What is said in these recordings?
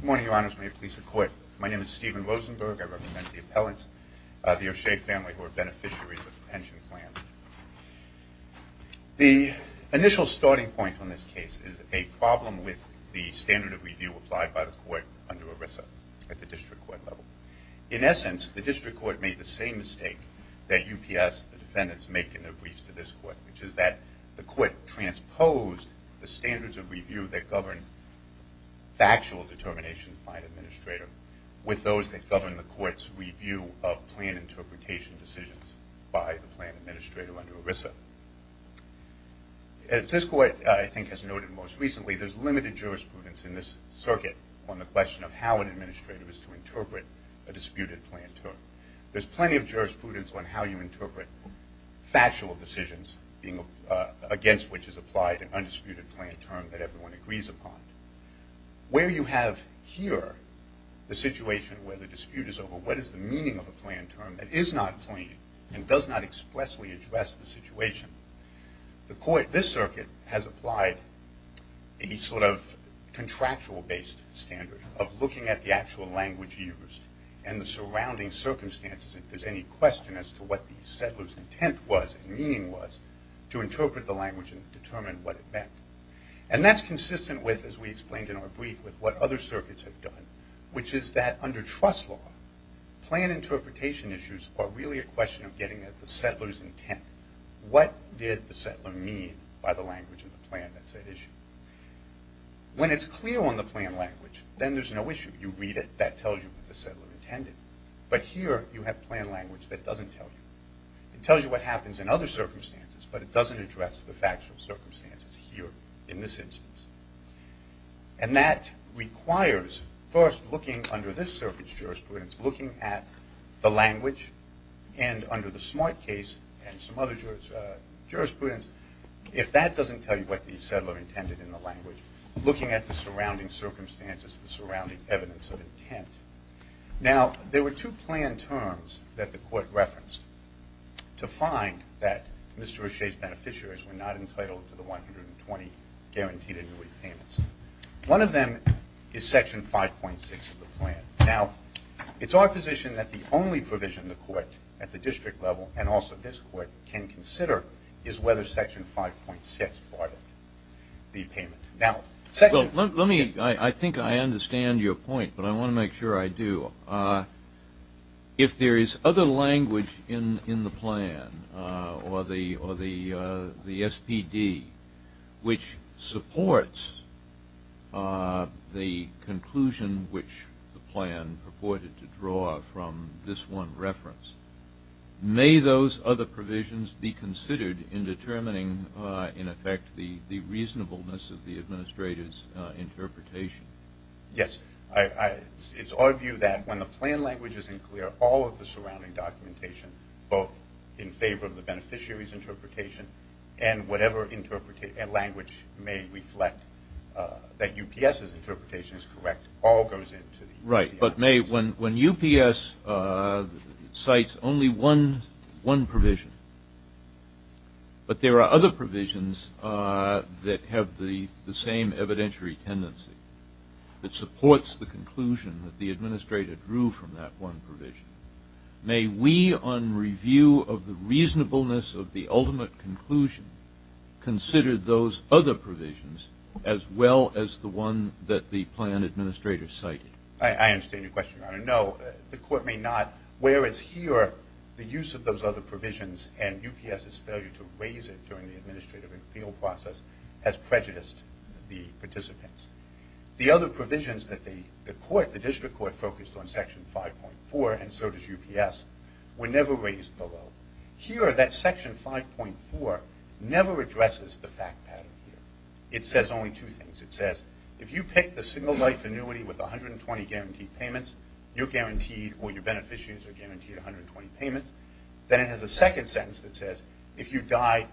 Good morning, Your Honors. May it please the Court. My name is Stephen Rosenberg. I represent the appellants of the O'Shea family who are beneficiaries of the pension plan. The initial starting point on this case is a problem with the standard of review applied by the Court under ERISA at the district court level. In essence, the district court made the same mistake that UPS defendants make in their briefs to this Court, which is that the Court transposed the standards of review that govern factual determination by an administrator with those that govern the Court's review of plan interpretation decisions by the plan administrator under ERISA. As this Court, I think, has noted most recently, there's limited jurisprudence in this circuit on the question of how an administrator is to interpret a disputed plan term. There's plenty of jurisprudence on how you interpret factual decisions against which is applied an undisputed plan term that everyone agrees upon. Where you have here the situation where the dispute is over what is the meaning of a plan term that is not plain and does not expressly address the situation, this circuit has applied a sort of contractual based standard of looking at the actual language used and the surrounding circumstances if there's any question as to what the settler's intent was and meaning was to interpret the language and determine what it meant. And that's consistent with, as we explained in our brief, with what other circuits have done, which is that under trust law, plan interpretation issues are really a question of getting at the settler's intent. What did the settler mean by the language of the plan that's at issue? When it's clear on the plan language, then there's no issue. You read it, that tells you what the settler intended. But here you have plan language that doesn't tell you. It tells you what happens in other circumstances, but it doesn't address the factual circumstances here in this instance. And that requires first looking under this circuit's jurisprudence, looking at the language, and under the Smart Case and some other jurisprudence, if that doesn't tell you what the settler intended in the language, looking at the surrounding circumstances, the surrounding evidence of intent. Now, there were two plan terms that the court referenced to find that Mr. O'Shea's beneficiaries were not entitled to the 120 guaranteed annuity payments. One of them is section 5.6 of the plan. Now, it's our position that the only provision the court at the district level, and also this court, can consider is whether section 5.6 barred the payment. Now, section 5.6. Well, let me, I think I understand your point, but I want to make sure I do. If there is other language in the plan, or the SPD, which supports the conclusion which the plan purported to draw from this one reference, may those other provisions be considered in determining, in effect, the reasonableness of the administrator's interpretation? Yes. It's our view that when the plan language isn't clear, all of the surrounding documentation, both in favor of the beneficiary's interpretation and whatever language may reflect that UPS's Right. But may, when UPS cites only one provision, but there are other provisions that have the same evidentiary tendency, that supports the conclusion that the administrator drew from that one provision, may we on review of the reasonableness of the ultimate conclusion consider those other provisions as well as the one that the plan administrator cited? I understand your question, Your Honor. No, the court may not. Whereas here, the use of those other provisions and UPS's failure to raise it during the administrative appeal process has prejudiced the participants. The other provisions that the court, the district court, focused on, section 5.4, and so does UPS, were never raised below. Here, that section 5.4 never addresses the fact pattern here. It says only two things. It says, if you pick a single life annuity with 120 guaranteed payments, you're guaranteed, or your beneficiaries are guaranteed 120 payments. Then it has a second sentence that says, if you die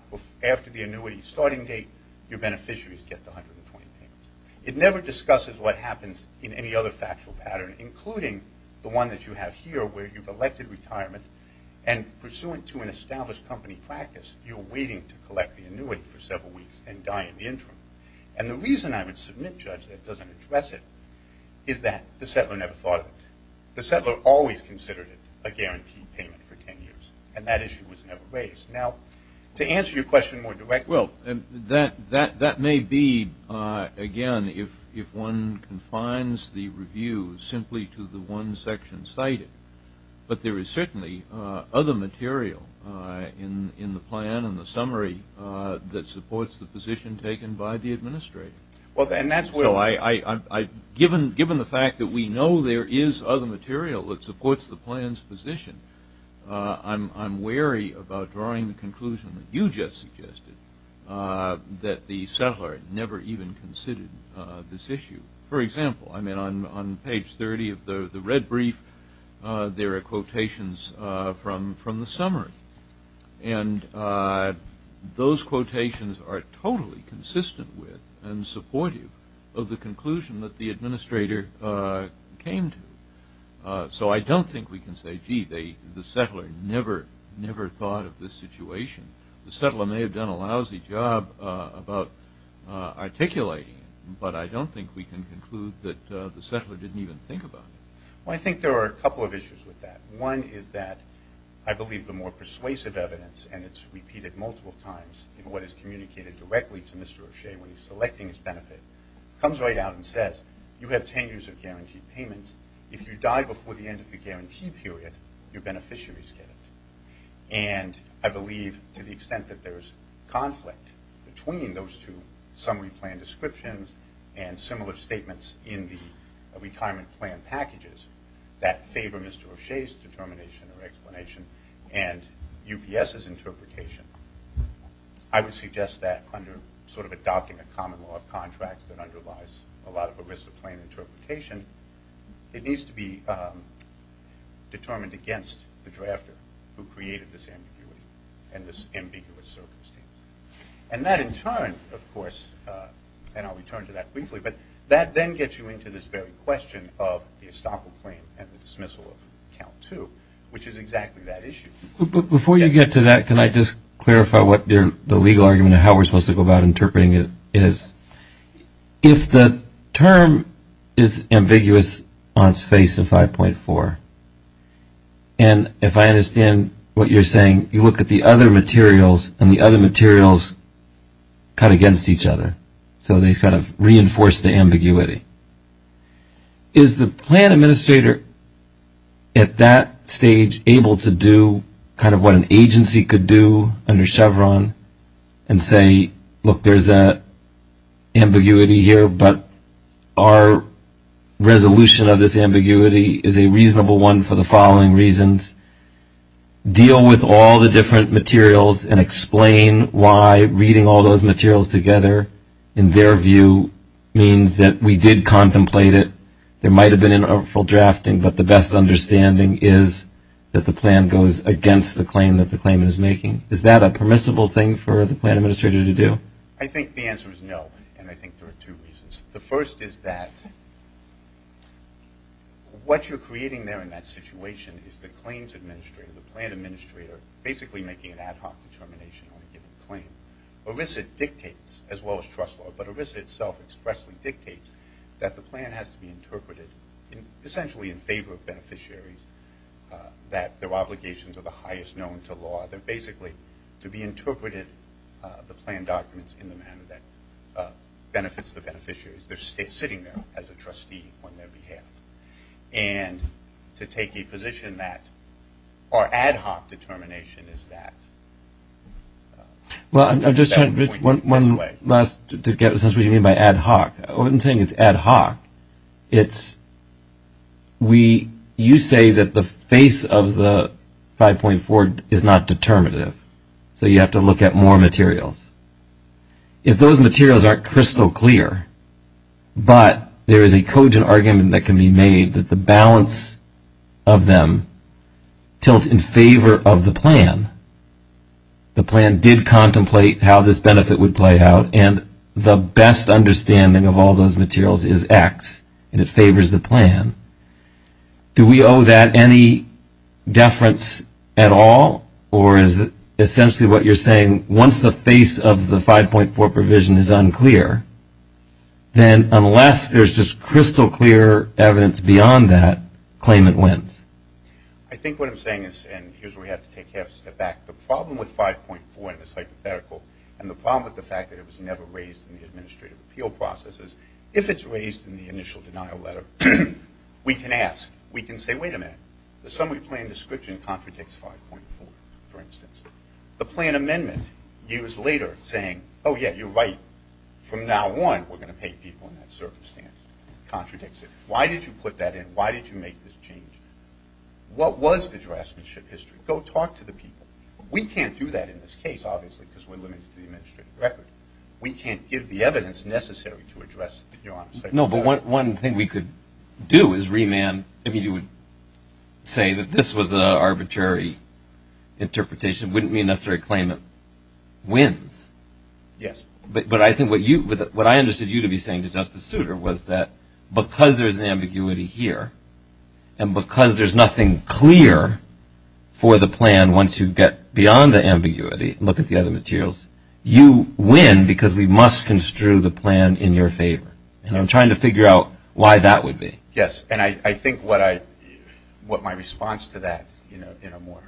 after the annuity starting date, your beneficiaries get the 120 payments. It never discusses what happens in any other factual pattern, including the one that you have here where you've elected retirement, and pursuant to an established company practice, you're waiting to collect the annuity for several weeks and die in the interim. And the reason I would submit, Judge, that it doesn't address it is that the settler never thought of it. The settler always considered it a guaranteed payment for 10 years, and that issue was never raised. Now, to answer your question more directly- Well, that may be, again, if one confines the review simply to the one section cited. But there is certainly other material in the plan and the summary that supports the position taken by the administrator. And that's where- Well, given the fact that we know there is other material that supports the plan's position, I'm wary about drawing the conclusion that you just suggested, that the settler never even considered this issue. For example, I mean, on page 30 of the red brief, there are summary. And those quotations are totally consistent with and supportive of the conclusion that the administrator came to. So I don't think we can say, gee, the settler never thought of this situation. The settler may have done a lousy job about articulating it, but I don't think we can conclude that the settler didn't even think about it. Well, I think there are a couple of issues with that. One is that I believe the more persuasive evidence, and it's repeated multiple times in what is communicated directly to Mr. O'Shea when he's selecting his benefit, comes right out and says, you have 10 years of guaranteed payments. If you die before the end of the guarantee period, your beneficiaries get it. And I believe to the extent that there's conflict between those two summary plan descriptions and similar statements in the retirement plan packages that favor Mr. O'Shea's determination or explanation and UPS's interpretation, I would suggest that under sort of adopting a common law of contracts that underlies a lot of ERISA plan interpretation, it needs to be determined against the drafter who created this ambiguity and this ambiguous circumstance. And that in turn, of course, and I'll return to that briefly, but that then gets you into this very question of the estoppel claim and the dismissal of count two, which is exactly that issue. Before you get to that, can I just clarify what the legal argument of how we're supposed to go about interpreting it is? If the term is ambiguous on its face in 5.4, and if I get to 5.4, does that mean that the materials cut against each other? So they kind of reinforce the ambiguity. Is the plan administrator at that stage able to do kind of what an agency could do under Chevron and say, look, there's an ambiguity here, but our resolution of this by reading all those materials together, in their view, means that we did contemplate it. There might have been an overall drafting, but the best understanding is that the plan goes against the claim that the claim is making. Is that a permissible thing for the plan administrator to do? I think the answer is no, and I think there are two reasons. The first is that what you're creating there in that situation is the claims administrator, the plan administrator, basically making an ad hoc determination on a given claim. ERISA dictates, as well as trust law, but ERISA itself expressly dictates that the plan has to be interpreted essentially in favor of beneficiaries, that their obligations are the highest known to law. They're basically to be interpreted, the plan documents, in the manner that benefits the beneficiaries. They're sitting there as a trustee on their behalf. And to take a position that our ad hoc, it's, you say that the face of the 5.4 is not determinative, so you have to look at more materials. If those materials aren't crystal clear, but there is a cogent argument that can be made that the balance of them tilt in favor of the plan, the plan did contemplate how this benefit would play out, and the best understanding of all those materials is X, and it favors the plan, do we owe that any deference at all? Or is it essentially what you're saying, once the face of the 5.4 provision is unclear, then unless there's just crystal clear evidence beyond that, claimant wins? I think what I'm saying is, and here's where we have to take a half step back, the problem with 5.4 and the hypothetical, and the problem with the fact that it was never raised in the administrative appeal process is, if it's raised in the initial denial letter, we can ask, we can say, wait a minute, the summary plan description contradicts 5.4, for instance. The plan amendment, years later, saying, oh yeah, you're right, from now on, we're going to pay people in that circumstance, contradicts it. Why did you put that in? Why did you make this change? What was the draftsmanship history? Go talk to the people. We can't do that in this case, obviously, because we're limited to the administrative record. We can't give the evidence necessary to address, to be honest. No, but one thing we could do is remand, I mean, you would say that this was an arbitrary interpretation, it wouldn't be a necessary claimant wins, but I think what I understood you to be saying to Justice Souter was that because there's an ambiguity here, and because there's nothing clear for the plan once you get beyond the ambiguity, look at the other materials, you win because we must construe the plan in your favor. And I'm trying to figure out why that would be. Yes, and I think what my response to that in a more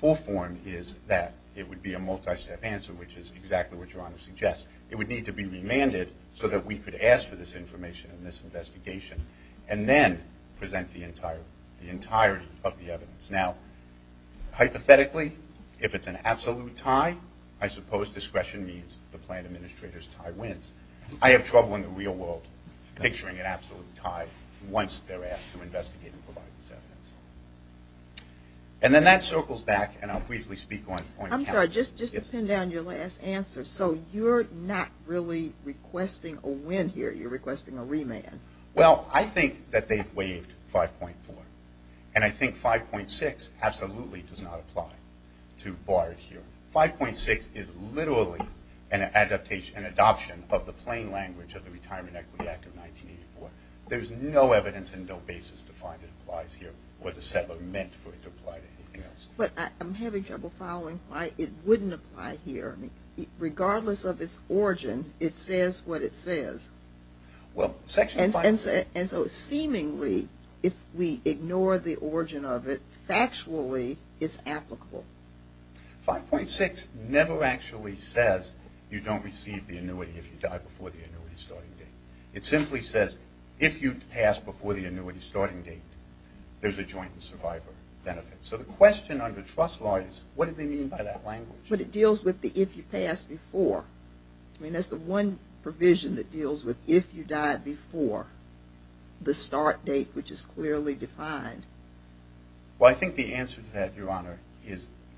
full form is that it would be a multi-step answer, which is exactly what your Honor suggests. It would need to be remanded so that we could ask for this information in this investigation, and then present the entirety of the evidence. Now, hypothetically, if it's an absolute tie, I suppose discretion means the plan administrator's tie wins. I have trouble in the real world picturing an absolute tie once they're asked to investigate and provide this evidence. And then that circles back, and I'll briefly speak on the point of capture. Just to pin down your last answer, so you're not really requesting a win here. You're requesting a remand. Well, I think that they've waived 5.4, and I think 5.6 absolutely does not apply to Bard here. 5.6 is literally an adaptation, an adoption of the plain language of the Retirement Equity Act of 1984. There's no evidence and no basis to find it applies here, or the settler meant for it to apply to anything else. But I'm having trouble following why it wouldn't apply here. I mean, regardless of its origin, it says what it says, and so seemingly, if we ignore the origin of it, factually, it's applicable. 5.6 never actually says you don't receive the annuity if you die before the annuity starting date. It simply says if you pass before the annuity starting date, there's a joint survivor benefit. So the question under trust law is what do they mean by that language? But it deals with the if you pass before. I mean, that's the one provision that deals with if you died before the start date, which is clearly defined. Well, I think the answer to that, Your Honor,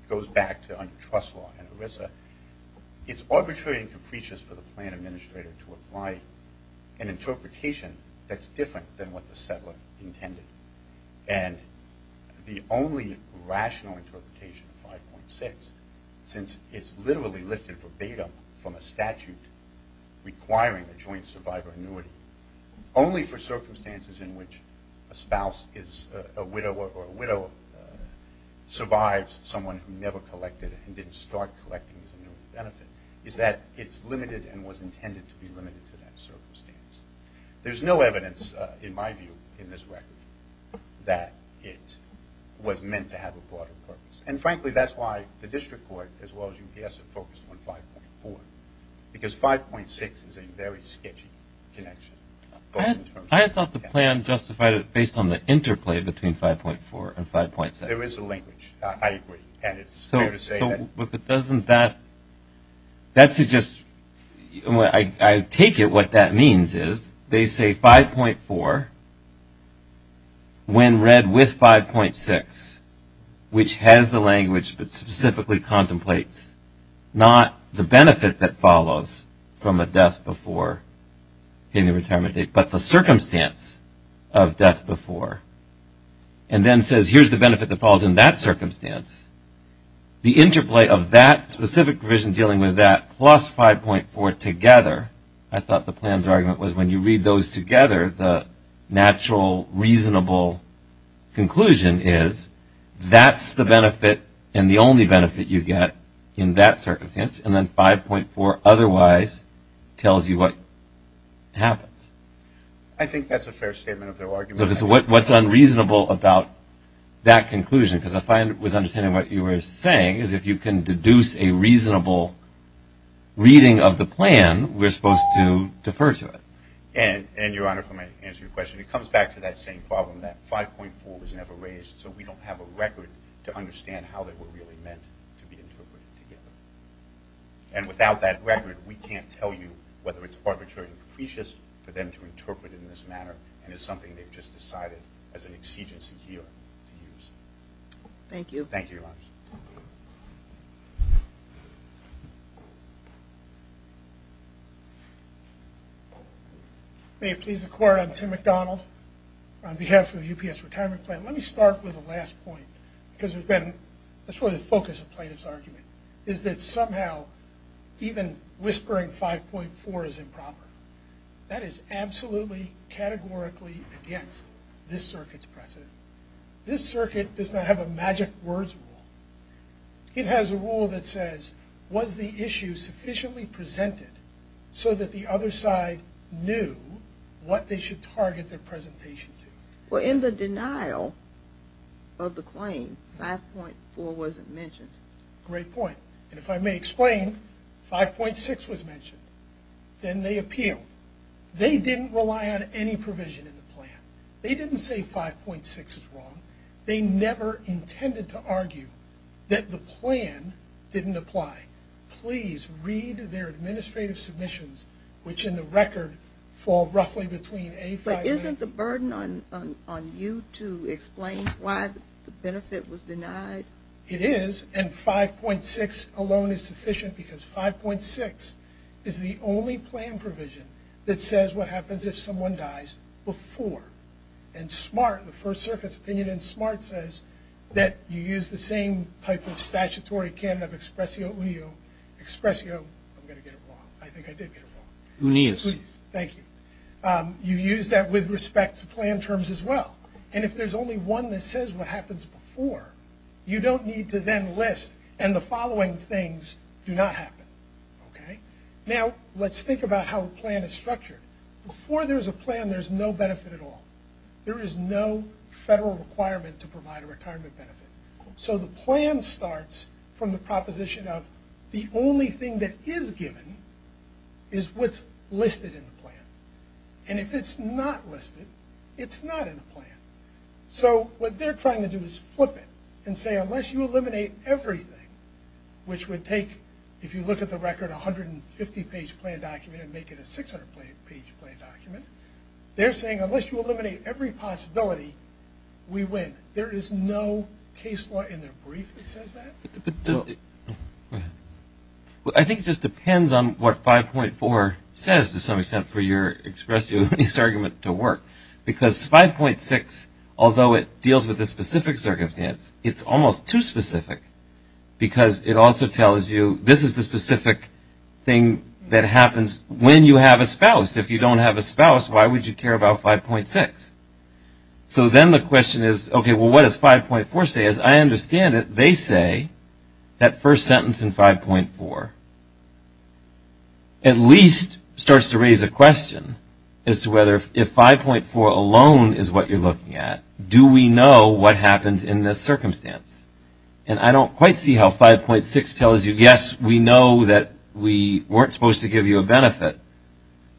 goes back to under trust law in ERISA. It's arbitrary and capricious for the plan administrator to apply an interpretation that's different than what the settler intended. And the only rational interpretation of 5.6, since it's literally lifted verbatim from a statute requiring a joint survivor annuity only for circumstances in which a spouse is a widow or a widow survives someone who never collected and didn't start collecting his benefit, is that it's limited and was intended to be limited to that circumstance. There's no evidence, in my view, in this record that it was meant to have a broader purpose. And frankly, that's why the district court, as well as UPS, are focused on 5.4, because 5.6 is a very sketchy connection. I thought the plan justified it based on the interplay between 5.4 and 5.6. There is a linkage. I agree. And it's fair to say that... I take it what that means is they say 5.4, when read with 5.6, which has the language that specifically contemplates not the benefit that follows from a death before in the retirement date, but the circumstance of death before, and then says, here's the benefit that falls in that circumstance, the interplay of that specific provision dealing with that plus 5.4 together, I thought the plan's argument was when you read those together, the natural reasonable conclusion is that's the benefit and the only benefit you get in that circumstance, and then 5.4 otherwise tells you what happens. I think that's a fair statement of their argument. What's unreasonable about that conclusion? Because I find, with understanding what you were saying, is if you can deduce a reasonable reading of the plan, we're supposed to defer to it. And Your Honor, for my answer to your question, it comes back to that same problem that 5.4 was never raised, so we don't have a record to understand how they were really meant to be interpreted together. And without that record, we can't tell you whether it's arbitrary and capricious for them to interpret it in this manner, and it's something they've just decided as an exigency here to use. Thank you. Thank you, Your Honor. May it please the Court, I'm Tim McDonald on behalf of UPS Retirement Plan. Let me start with the last point, because there's been, that's really the focus of plaintiff's argument, is that somehow even whispering 5.4 is improper. That is absolutely, categorically against this circuit's precedent. This circuit does not have a magic words rule. It has a rule that says, was the issue sufficiently presented so that the other side knew what they should target their presentation to? Well, in the denial of the claim, 5.4 wasn't mentioned. Great point. And if I may explain, 5.6 was mentioned. Then they appealed. They didn't rely on any provision in the plan. They didn't say 5.6 is wrong. They never intended to argue that the plan didn't apply. Please read their administrative submissions, which in the record fall roughly between A5 and- But isn't the burden on you to explain why the benefit was denied? It is, and 5.6 alone is sufficient because 5.6 is the only plan provision that says what happens if someone dies before. And SMART, the First Circuit's opinion in SMART says that you use the same type of statutory canon of expressio unio, expressio, I'm going to get it wrong. I think I did get it wrong. Unis. Thank you. You use that with respect to plan terms as well. And if there's only one that says what happens before, you don't need to then list, and the following things do not happen. Okay? Now, let's think about how a plan is structured. Before there's a plan, there's no benefit at all. There is no federal requirement to provide a retirement benefit. So the plan starts from the proposition of the only thing that is given is what's listed in the plan. And if it's not listed, it's not in the plan. So what they're trying to do is flip it and say, unless you eliminate everything, which would take, if you look at the record, a 150-page plan document and make it a 600-page plan document, they're saying, unless you eliminate every possibility, we win. There is no case law in their brief that says that. I think it just depends on what 5.4 says, to some extent, for your expressive argument to work. Because 5.6, although it deals with a specific circumstance, it's almost too specific because it also tells you this is the specific thing that happens when you have a spouse. If you don't have a spouse, why would you care about 5.6? So then the question is, okay, what does 5.4 say? As I understand it, they say that first sentence in 5.4 at least starts to raise a question as to whether if 5.4 alone is what you're looking at, do we know what happens in this circumstance? And I don't quite see how 5.6 tells you, yes, we know that we weren't supposed to give you a benefit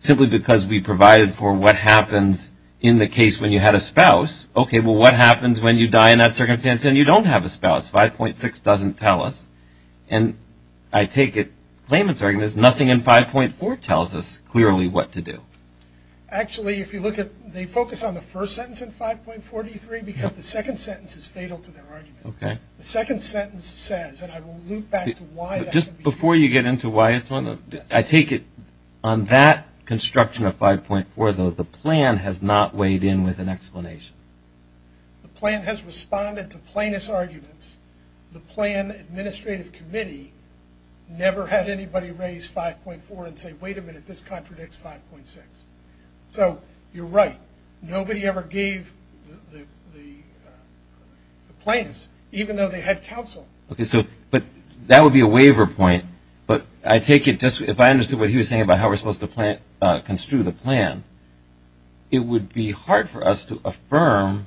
simply because we provided for what happens in the case when you had a spouse. Okay, well, what happens when you die in that circumstance and you don't have a spouse? 5.6 doesn't tell us. And I take it Claimant's argument is nothing in 5.4 tells us clearly what to do. Actually, if you look at, they focus on the first sentence in 5.43 because the second sentence is fatal to their argument. The second sentence says, and I will loop back to why that can be true. Just before you get into why it's one of them, I take it on that construction of 5.4, though, the plan has not weighed in with an explanation. The plan has responded to plaintiff's arguments. The plan administrative committee never had anybody raise 5.4 and say, wait a minute, this contradicts 5.6. So you're right. Nobody ever gave the plaintiffs, even though they had counsel. But that would be a waiver point. But I take it just if I understood what he was saying about how we're supposed to construe the plan, it would be hard for us to affirm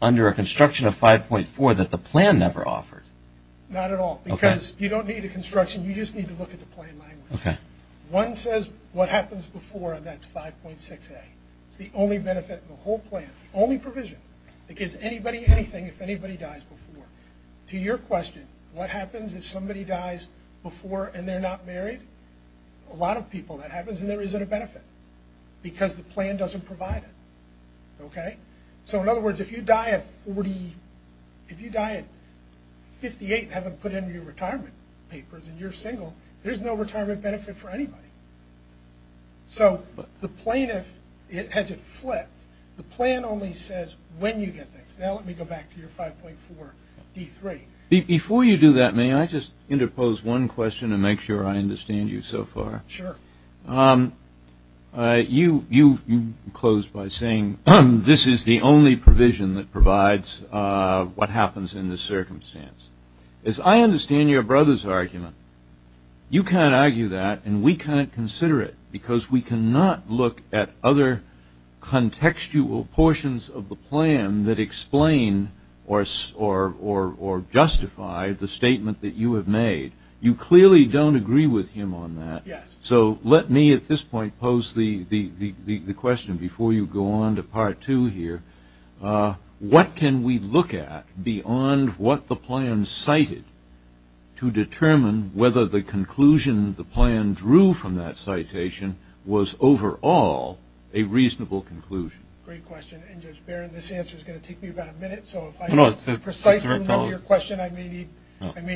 under a construction of 5.4 that the plan never offered. Not at all. Because you don't need a construction. You just need to look at the plan language. One says what happens before, and that's 5.6a. It's the only benefit in the whole plan, only provision that gives anybody anything if anybody dies before. To your question, what happens if somebody dies before and they're not married? A lot of people. That happens and there isn't a benefit because the plan doesn't provide it, okay? So in other words, if you die at 48 and haven't put in your retirement papers and you're single, there's no retirement benefit for anybody. So the plaintiff has it flipped. The plan only says when you get things. Now let me go back to your 5.4d3. Before you do that, may I just interpose one question to make sure I understand you so far? Sure. You closed by saying this is the only provision that provides what happens in this circumstance. As I understand your brother's argument, you can't argue that and we can't consider it because we cannot look at other contextual portions of the plan that explain or justify the statement that you have made. You clearly don't agree with him on that. Yes. So let me at this point pose the question before you go on to Part 2 here. What can we look at beyond what the plan cited to determine whether the conclusion the plan drew from that citation was overall a reasonable conclusion? Great question. And Judge Barron, this answer is going to take me about a minute, so if I can precisely remember your question, I may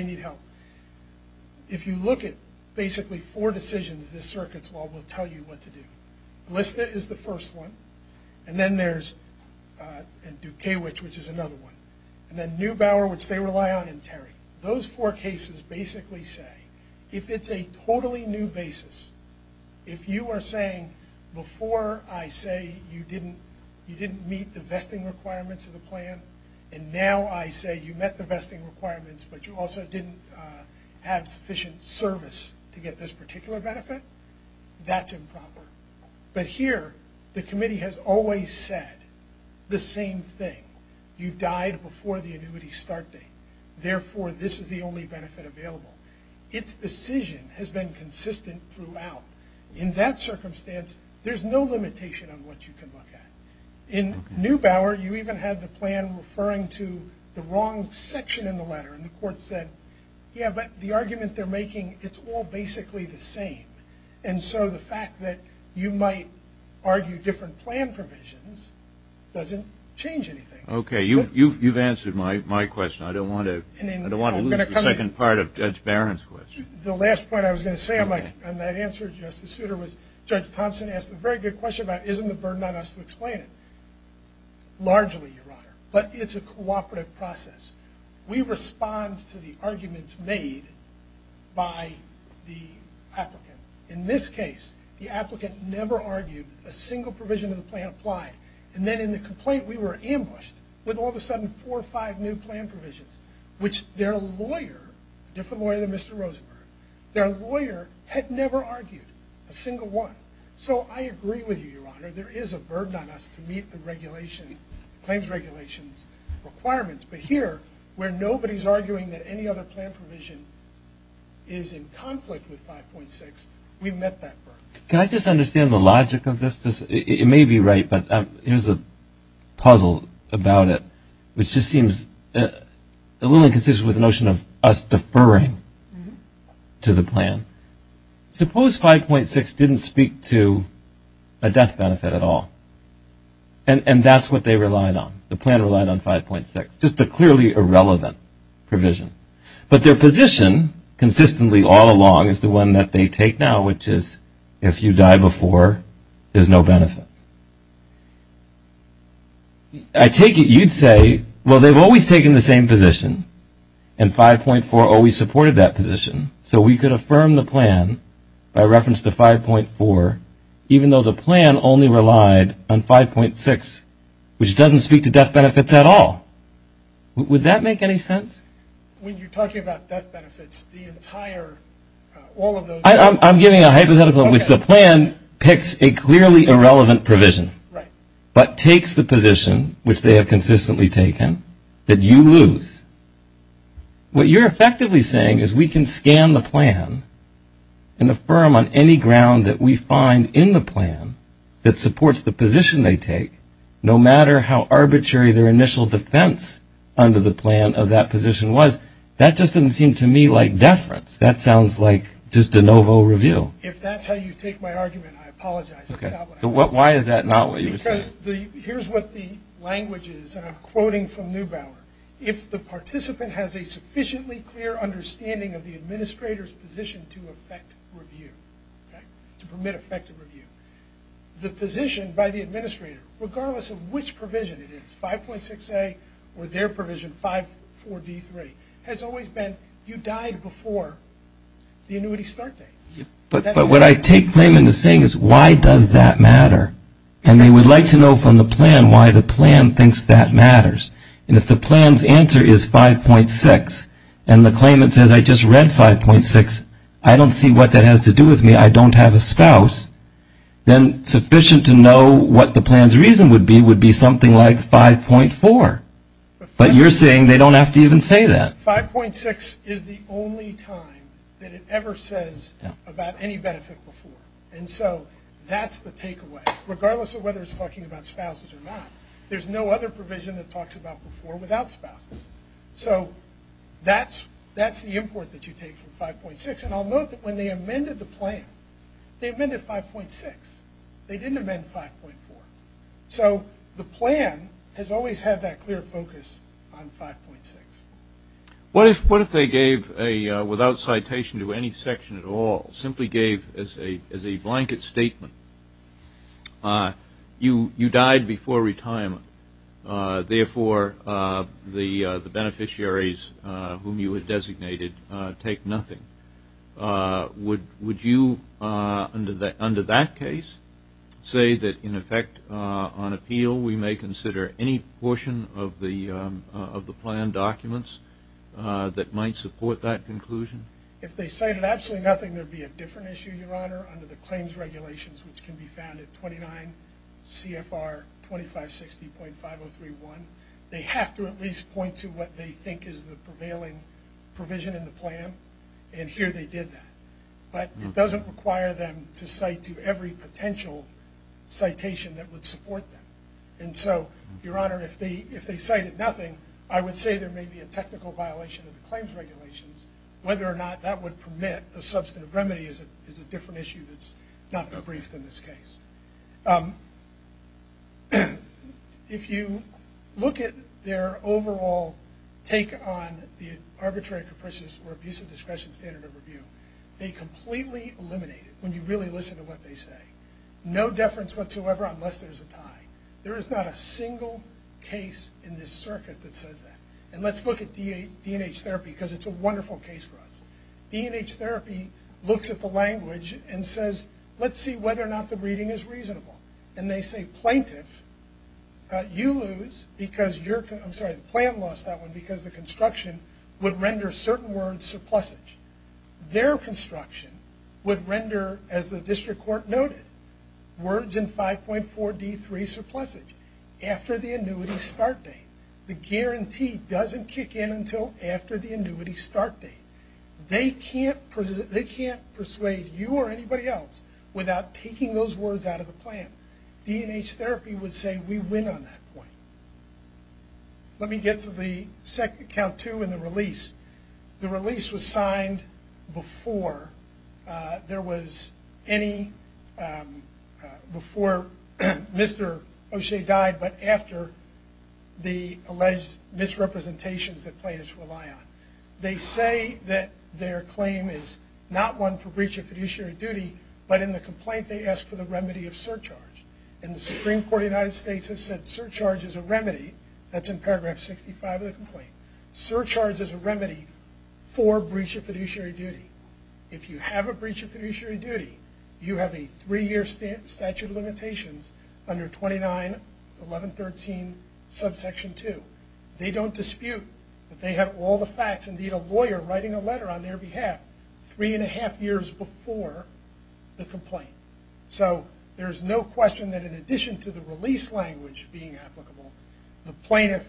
need help. If you look at basically four decisions this circuit's law will tell you what to do. Glista is the first one, and then there's Dukawich, which is another one, and then Neubauer, which they rely on, and Terry. Those four cases basically say if it's a totally new basis, if you are saying before I say you didn't meet the vesting requirements of the plan, and now I say you met the vesting requirements but you also didn't have sufficient service to get this particular benefit, that's improper. But here the committee has always said the same thing. You died before the annuity start date, therefore this is the only benefit available. Its decision has been consistent throughout. In that circumstance there's no limitation on what you can look at. In Neubauer you even had the plan referring to the wrong section in the letter, and the court said yeah, but the argument they're making, it's all basically the same. And so the fact that you might argue different plan provisions doesn't change anything. Okay, you've answered my question. I don't want to lose the second part of Judge Barron's question. The last point I was going to say on that answer, Justice Souter, was Judge Thompson asked a very good question about isn't it a burden on us to explain it. Largely, Your Honor, but it's a cooperative process. We respond to the arguments made by the applicant. In this case, the applicant never argued a single provision of the plan applied, and then in the complaint we were ambushed with all of a sudden four or five new plan provisions, which their lawyer, a different lawyer than Mr. Rosenberg, their lawyer had never argued a single one. So I agree with you, Your Honor, there is a burden on us to meet the claims regulations requirements, but here where nobody's arguing that any other plan provision is in conflict with 5.6, we've met that burden. Can I just understand the logic of this? It may be right, but here's a puzzle about it which just seems a little inconsistent with the notion of us deferring to the plan. Suppose 5.6 didn't speak to a death benefit at all, and that's what they relied on. The plan relied on 5.6, just a clearly irrelevant provision. But their position consistently all along is the one that they take now, which is if you die before, there's no benefit. I take it you'd say, well, they've always taken the same position, and 5.4 always supported that position, so we could affirm the plan by reference to 5.4 even though the plan only relied on 5.6, which doesn't speak to death benefits at all. Would that make any sense? When you're talking about death benefits, the entire, all of those I'm giving a hypothetical in which the plan picks a clearly irrelevant provision, but takes the position which they have consistently taken, that you lose. What you're effectively saying is we can scan the plan and affirm on any ground that we find in the plan that supports the position they take, no matter how arbitrary their initial defense under the plan of that position was. That just doesn't seem to me like deference. That sounds like just a no-vote review. If that's how you take my argument, I apologize. Why is that not what you were saying? Here's what the language is, and I'm quoting from Neubauer. If the participant has a sufficiently clear understanding of the administrator's position to affect review, to permit effective review, the position by the administrator, regardless of which provision it is, 5.6a or their provision 5.4d3, has always been you died before the annuity start date. But what I take Clayman is saying is why does that matter? And they would like to know from the plan why the plan thinks that matters. And if the plan's answer is 5.6, and the claimant says I just read 5.6, I don't see what that has to do with me. I don't have a spouse. Then sufficient to know what the plan's reason would be would be something like 5.4. But you're saying they don't have to even say that. 5.6 is the only time that it ever says about any benefit before. And so that's the takeaway. Regardless of whether it's talking about spouses or not, there's no other provision that talks about before without spouses. So that's the import that you take from 5.6. And I'll note that when they amended the plan, they amended 5.6. They didn't amend 5.4. So the plan has What if they gave a without citation to any section at all, simply gave as a blanket statement you died before retirement. Therefore, the beneficiaries whom you had designated take nothing. Would you under that case say that in effect on appeal, we may consider any portion of the plan documents that might support that conclusion? If they cited absolutely nothing, there'd be a different issue, Your Honor, under the claims regulations, which can be found at 29 CFR 2560.5031. They have to at least point to what they think is the prevailing provision in the plan. And here they did that. But it doesn't require them to cite to every potential citation that would support them. And so, Your Honor, if they cited nothing, I would say there may be a technical violation of the claims regulations. Whether or not that would permit a substantive remedy is a different issue that's not more brief than this case. If you look at their overall take on the arbitrary capricious or abusive discretion standard of review, they completely eliminate it when you really listen to what they say. No deference whatsoever unless there's a tie. There is not a single case in this circuit that says that. And let's look at D&H Therapy because it's a wonderful case for us. D&H Therapy looks at the language and says, let's see whether or not the reading is reasonable. And they say, plaintiff, you lose because you're, I'm sorry, the plan lost that one because the construction would render certain words surplusage. Their construction would render, as the district court noted, words in 5.4 D3 surplusage after the annuity start date. The guarantee doesn't kick in until after the annuity start date. They can't persuade you or anybody else without taking those words out of the plan. D&H Therapy would say, we win on that point. Let me get to the second, count two, and the release. The release was signed before there was any, before Mr. O'Shea died, but after the alleged misrepresentations that plaintiffs rely on. They say that their claim is not one for breach of fiduciary duty, but in the complaint they ask for the remedy of surcharge. And the Supreme Court of the United States has said surcharge is a remedy. That's in paragraph 65 of the complaint. Surcharge is a remedy for breach of fiduciary duty. If you have a breach of fiduciary duty, you have a three year statute of limitations under 291113 subsection 2. They don't dispute that they have all the facts. Indeed, a lawyer writing a letter on their behalf three and a half years before the complaint. So there's no question that in addition to the release language being applicable, the plaintiff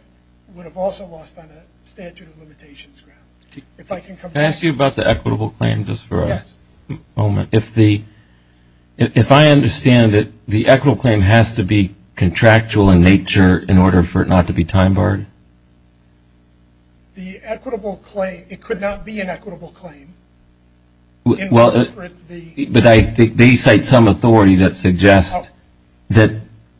would have also lost on a statute of limitations ground. Can I ask you about the equitable claim just for a moment? Yes. If the, if I understand it, the equitable claim has to be contractual in nature in order for it not to be time barred? The equitable claim, it could not be an equitable claim. Well, but I think they cite some authority that suggests that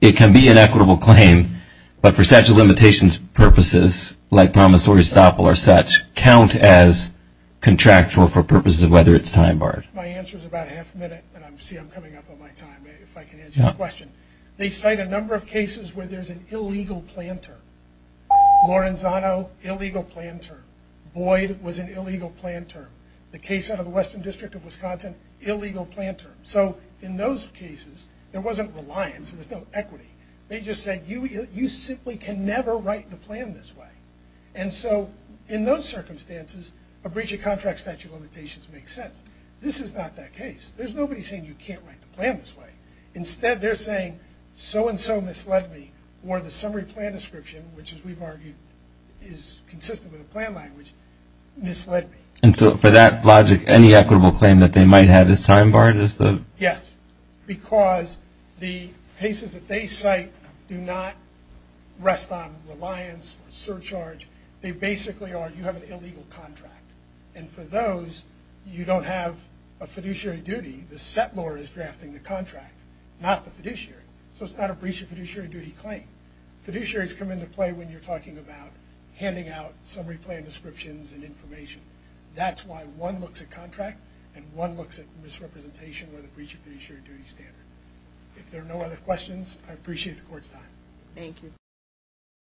it can be an equitable claim, but for statute of limitations purposes, like promissory stop or such, count as contractual for purposes of whether it's time barred. My answer is about half a minute, and I see I'm coming up on my time. If I can ask you a question. They cite a number of cases where there's an illegal plan term. Lorenzano, illegal plan term. Boyd was an illegal plan term. The case out of the Western District of Wisconsin, illegal plan term. So in those cases, there wasn't reliance. There was no equity. They just said you simply can never write the plan this way. And so in those circumstances, a breach of contract statute of limitations makes sense. This is not that case. There's nobody saying you can't write the plan this way. Instead, they're saying so and so misled me, or the summary plan description, which as we've argued is consistent with the plan language, misled me. And so for that logic any equitable claim that they might have is time barred? Yes, because the cases that they cite do not rest on reliance or surcharge. They basically are you have an illegal contract. And for those, you don't have a fiduciary duty. The settlor is drafting the contract, not the fiduciary. So it's not a breach of fiduciary duty claim. Fiduciaries come into play when you're talking about handing out summary plan descriptions and information. That's why one looks at contract and one looks at misrepresentation with a breach of fiduciary duty standard. If there are no other questions, I appreciate the court's time. Thank you.